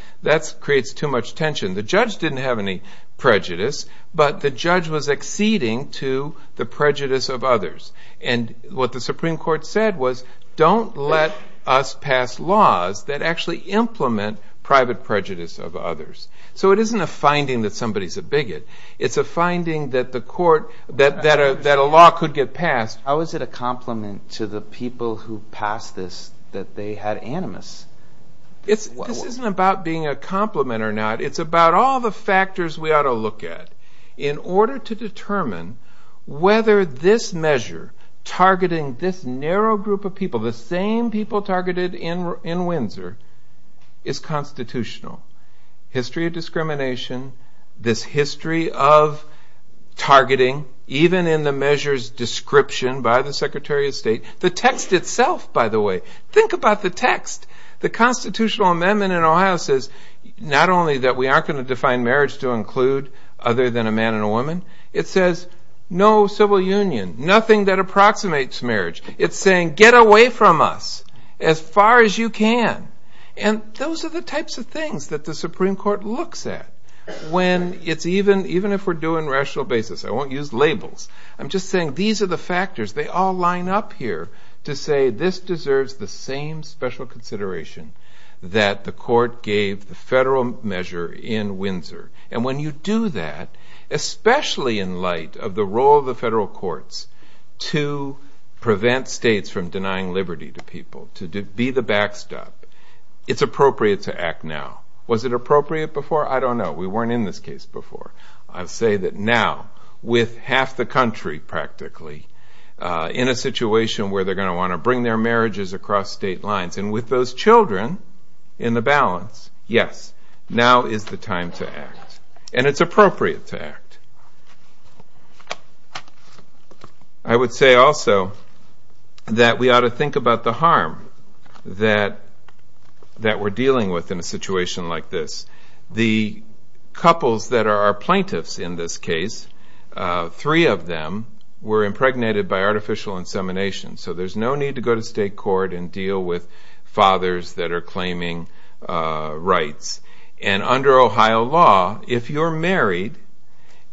creates too much tension. The judge didn't have any prejudice, but the judge was exceeding to the prejudice of others. And what the Supreme Court said was, don't let us pass laws that actually implement private prejudice of others. So it isn't a finding that somebody's a bigot. It's a finding that a law could get passed. How is it a compliment to the people who passed this that they had animus? This isn't about being a compliment or not. It's about all the factors we ought to look at in order to determine whether this measure targeting this narrow group of people, the same people targeted in Windsor, is constitutional. History of discrimination, this history of targeting, even in the measure's description by the Secretary of State, the text itself, by the way. Think about the text. The constitutional amendment in Ohio says not only that we aren't going to define marriage to include other than a man and a woman, it says no civil union, nothing that approximates marriage. It's saying get away from us as far as you can. And those are the types of things that the Supreme Court looks at when it's even if we're doing rational basis. I won't use labels. I'm just saying these are the factors. They all line up here to say this deserves the same special consideration that the court gave the federal measure in Windsor. And when you do that, especially in light of the role of the federal courts to prevent states from denying liberty to people, to be the backstop, it's appropriate to act now. Was it appropriate before? I don't know. We weren't in this case before. I'll say that now with half the country practically in a situation where they're going to want to bring their marriages across state lines and with those children in the balance, yes, now is the time to act. And it's appropriate to act. I would say also that we ought to think about the harm that we're dealing with in a situation like this. The couples that are our plaintiffs in this case, three of them were impregnated by artificial insemination, so there's no need to go to state court and deal with fathers that are claiming rights. And under Ohio law, if you're married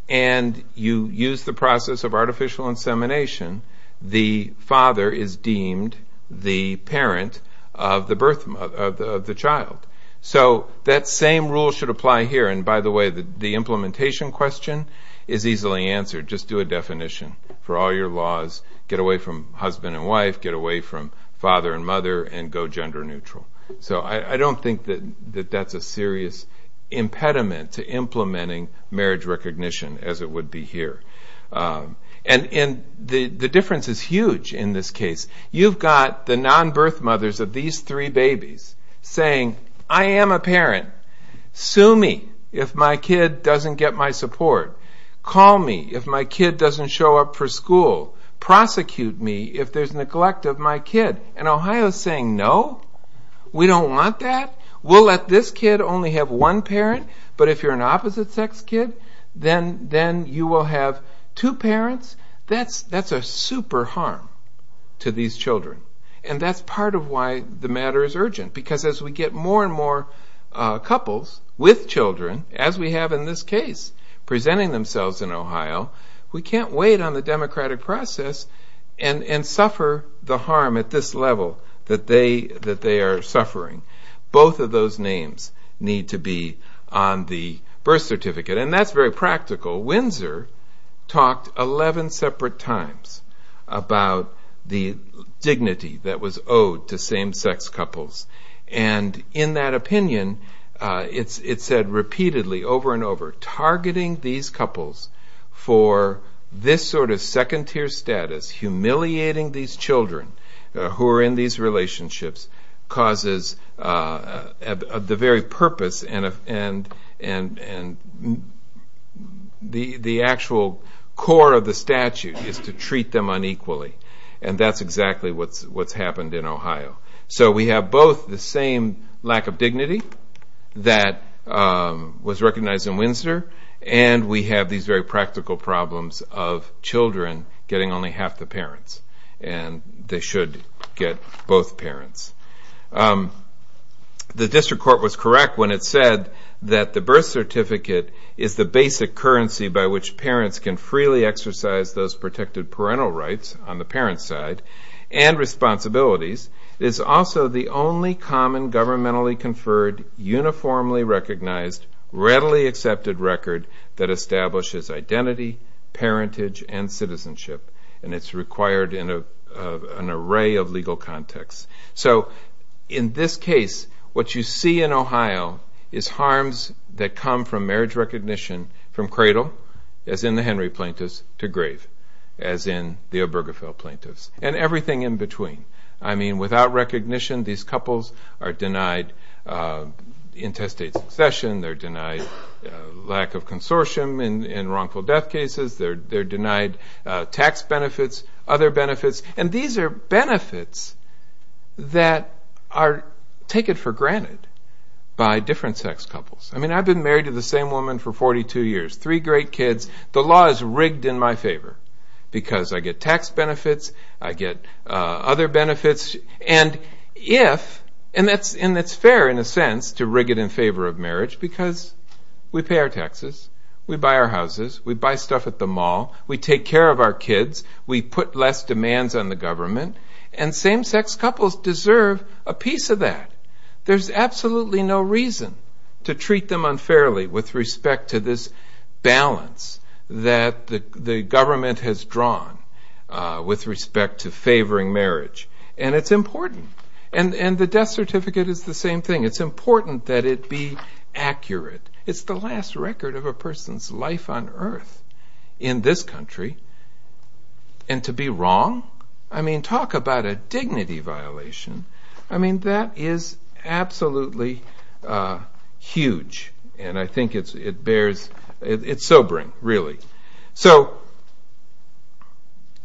and you use the process of artificial insemination, the father is deemed the parent of the child. So that same rule should apply here. And by the way, the implementation question is easily answered. Just do a definition for all your laws. Get away from husband and wife, get away from father and mother, and go gender neutral. So I don't think that that's a serious impediment to implementing marriage recognition as it would be here. And the difference is huge in this case. You've got the non-birth mothers of these three babies saying, I am a parent. Sue me if my kid doesn't get my support. Call me if my kid doesn't show up for school. Prosecute me if there's neglect of my kid. And Ohio is saying, no, we don't want that. We'll let this kid only have one parent, but if you're an opposite-sex kid, then you will have two parents. That's a super harm to these children. And that's part of why the matter is urgent, because as we get more and more couples with children, as we have in this case, presenting themselves in Ohio, we can't wait on the democratic process and suffer the harm at this level that they are suffering. Both of those names need to be on the birth certificate. And that's very practical. Windsor talked 11 separate times about the dignity that was owed to same-sex couples. And in that opinion, it said repeatedly over and over, targeting these couples for this sort of second-tier status, humiliating these children who are in these relationships, causes the very purpose and the actual core of the statute is to treat them unequally. And that's exactly what's happened in Ohio. So we have both the same lack of dignity that was recognized in Windsor, and we have these very practical problems of children getting only half the parents. And they should get both parents. The district court was correct when it said that the birth certificate is the basic currency by which parents can freely exercise those protected parental rights on the parent's side and responsibilities. It is also the only common governmentally conferred, uniformly recognized, readily accepted record that establishes identity, parentage, and citizenship. And it's required in an array of legal contexts. So in this case, what you see in Ohio is harms that come from marriage recognition, from cradle, as in the Henry plaintiffs, to grave, as in the Obergefell plaintiffs, and everything in between. I mean, without recognition, these couples are denied intestate succession, they're denied lack of consortium in wrongful death cases, they're denied tax benefits, other benefits, and these are benefits that are taken for granted by different sex couples. I mean, I've been married to the same woman for 42 years, three great kids, the law is rigged in my favor because I get tax benefits, I get other benefits, and it's fair, in a sense, to rig it in favor of marriage because we pay our taxes, we buy our houses, we buy stuff at the mall, we take care of our kids, we put less demands on the government, and same-sex couples deserve a piece of that. There's absolutely no reason to treat them unfairly with respect to this balance that the government has drawn with respect to favoring marriage, and it's important. And the death certificate is the same thing. It's important that it be accurate. It's the last record of a person's life on Earth in this country, and to be wrong? I mean, talk about a dignity violation. I mean, that is absolutely huge, and I think it's sobering, really. So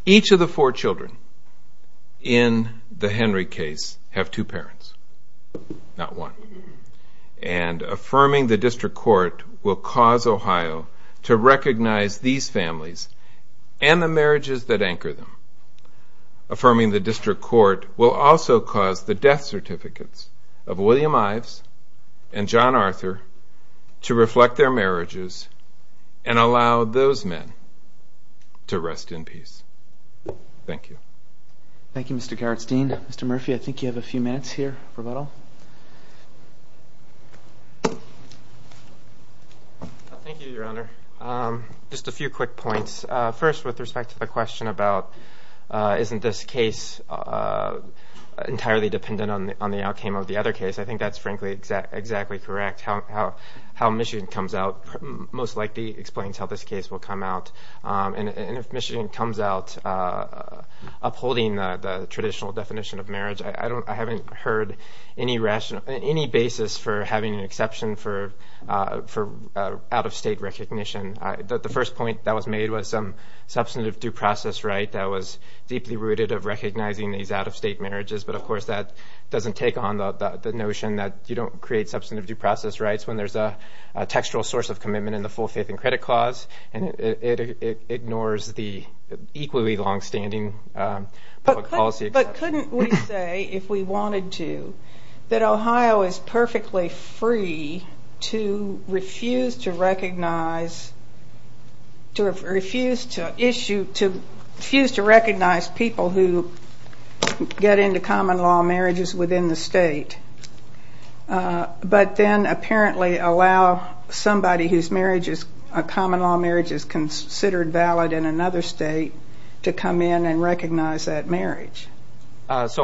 each of the four children in the Henry case have two parents, not one. And affirming the district court will cause Ohio to recognize these families and the marriages that anchor them. Affirming the district court will also cause the death certificates of William Ives and John Arthur to reflect their marriages and allow those men to rest in peace. Thank you. Thank you, Mr. Gerritsdien. Mr. Murphy, I think you have a few minutes here for rebuttal. Thank you, Your Honor. Just a few quick points. First, with respect to the question about isn't this case entirely dependent on the outcome of the other case, I think that's frankly exactly correct. How Michigan comes out most likely explains how this case will come out. And if Michigan comes out upholding the traditional definition of marriage, I haven't heard any basis for having an exception for out-of-state recognition. The first point that was made was some substantive due process right that was deeply rooted of recognizing these out-of-state marriages. But, of course, that doesn't take on the notion that you don't create substantive due process rights when there's a textual source of commitment in the full faith and credit clause, and it ignores the equally longstanding public policy. But couldn't we say, if we wanted to, that Ohio is perfectly free to refuse to recognize, to refuse to issue, to refuse to recognize people who get into common-law marriages within the state, but then apparently allow somebody whose marriage is, a common-law marriage is considered valid in another state to come in and recognize that marriage? It's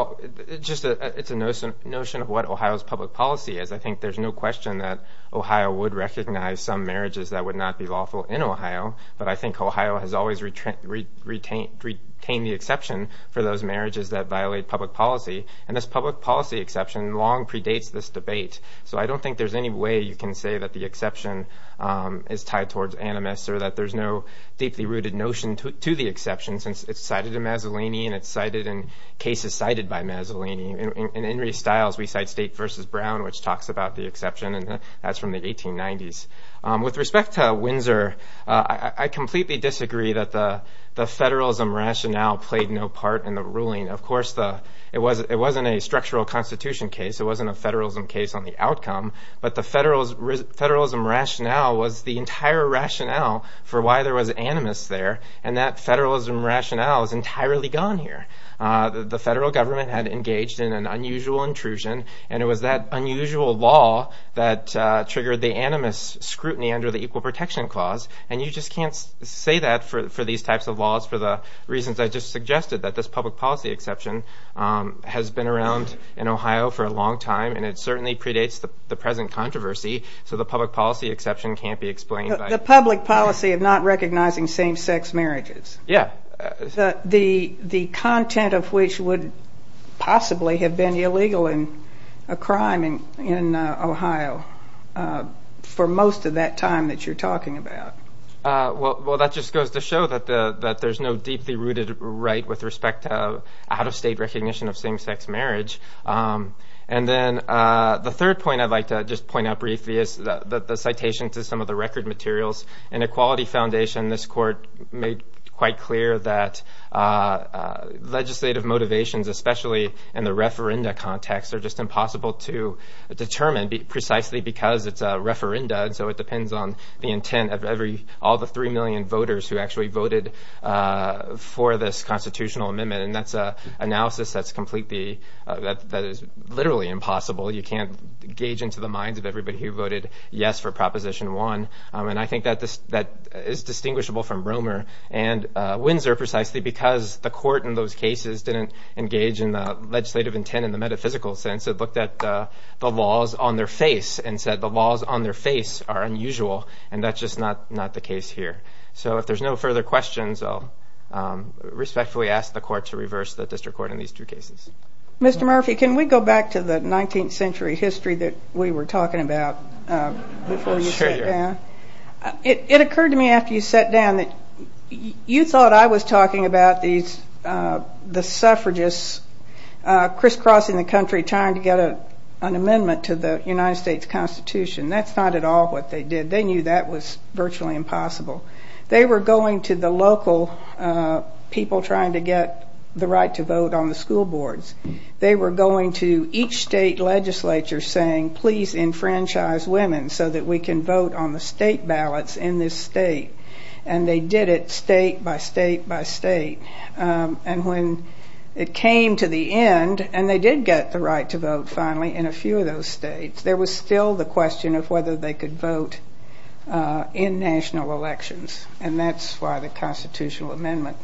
a notion of what Ohio's public policy is. I think there's no question that Ohio would recognize some marriages that would not be lawful in Ohio, but I think Ohio has always retained the exception for those marriages that violate public policy, and this public policy exception long predates this debate. So I don't think there's any way you can say that the exception is tied towards animus or that there's no deeply rooted notion to the exception since it's cited in Mazzolini and it's cited in cases cited by Mazzolini. In Henry Stiles, we cite State v. Brown, which talks about the exception, and that's from the 1890s. With respect to Windsor, I completely disagree that the federalism rationale played no part in the ruling. Of course, it wasn't a structural constitution case, it wasn't a federalism case on the outcome, but the federalism rationale was the entire rationale for why there was animus there, and that federalism rationale is entirely gone here. The federal government had engaged in an unusual intrusion, and it was that unusual law that triggered the animus scrutiny under the Equal Protection Clause, and you just can't say that for these types of laws for the reasons I just suggested, that this public policy exception has been around in Ohio for a long time, and it certainly predates the present controversy, so the public policy exception can't be explained by... The public policy of not recognizing same-sex marriages. Yeah. The content of which would possibly have been illegal and a crime in Ohio for most of that time that you're talking about. Well, that just goes to show that there's no deeply rooted right with respect to out-of-state recognition of same-sex marriage. And then the third point I'd like to just point out briefly is the citation to some of the record materials. In Equality Foundation, this court made quite clear that legislative motivations, especially in the referenda context, are just impossible to determine precisely because it's a referenda, and so it depends on the intent of all the 3 million voters who actually voted for this constitutional amendment, and that's an analysis that's completely... That is literally impossible. You can't gauge into the minds of everybody who voted yes for Proposition 1, and I think that is distinguishable from Romer and Windsor, precisely because the court in those cases didn't engage in the legislative intent in the metaphysical sense. It looked at the laws on their face and said the laws on their face are unusual, and that's just not the case here. So if there's no further questions, I'll respectfully ask the court to reverse the district court in these two cases. Mr. Murphy, can we go back to the 19th century history that we were talking about before you sat down? It occurred to me after you sat down that you thought I was talking about the suffragists crisscrossing the country trying to get an amendment to the United States Constitution. That's not at all what they did. They knew that was virtually impossible. They were going to the local people trying to get the right to vote on the school boards. They were going to each state legislature saying please enfranchise women so that we can vote on the state ballots in this state, and they did it state by state by state. And when it came to the end, and they did get the right to vote finally in a few of those states, there was still the question of whether they could vote in national elections, and that's why the constitutional amendment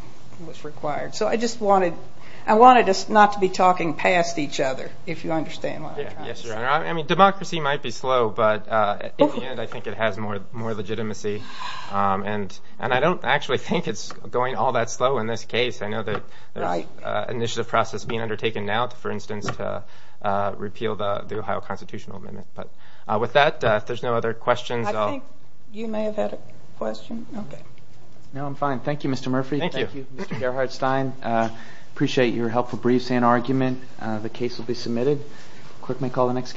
was required. So I just wanted us not to be talking past each other, if you understand what I'm trying to say. Yes, Your Honor. Democracy might be slow, but in the end, I think it has more legitimacy. And I don't actually think it's going all that slow in this case. I know that there's an initiative process being undertaken now, for instance, to repeal the Ohio constitutional amendment. But with that, if there's no other questions, I'll... I think you may have had a question. No, I'm fine. Thank you, Mr. Murphy. I appreciate your helpful briefs and argument. The case will be submitted. Court may call the next case.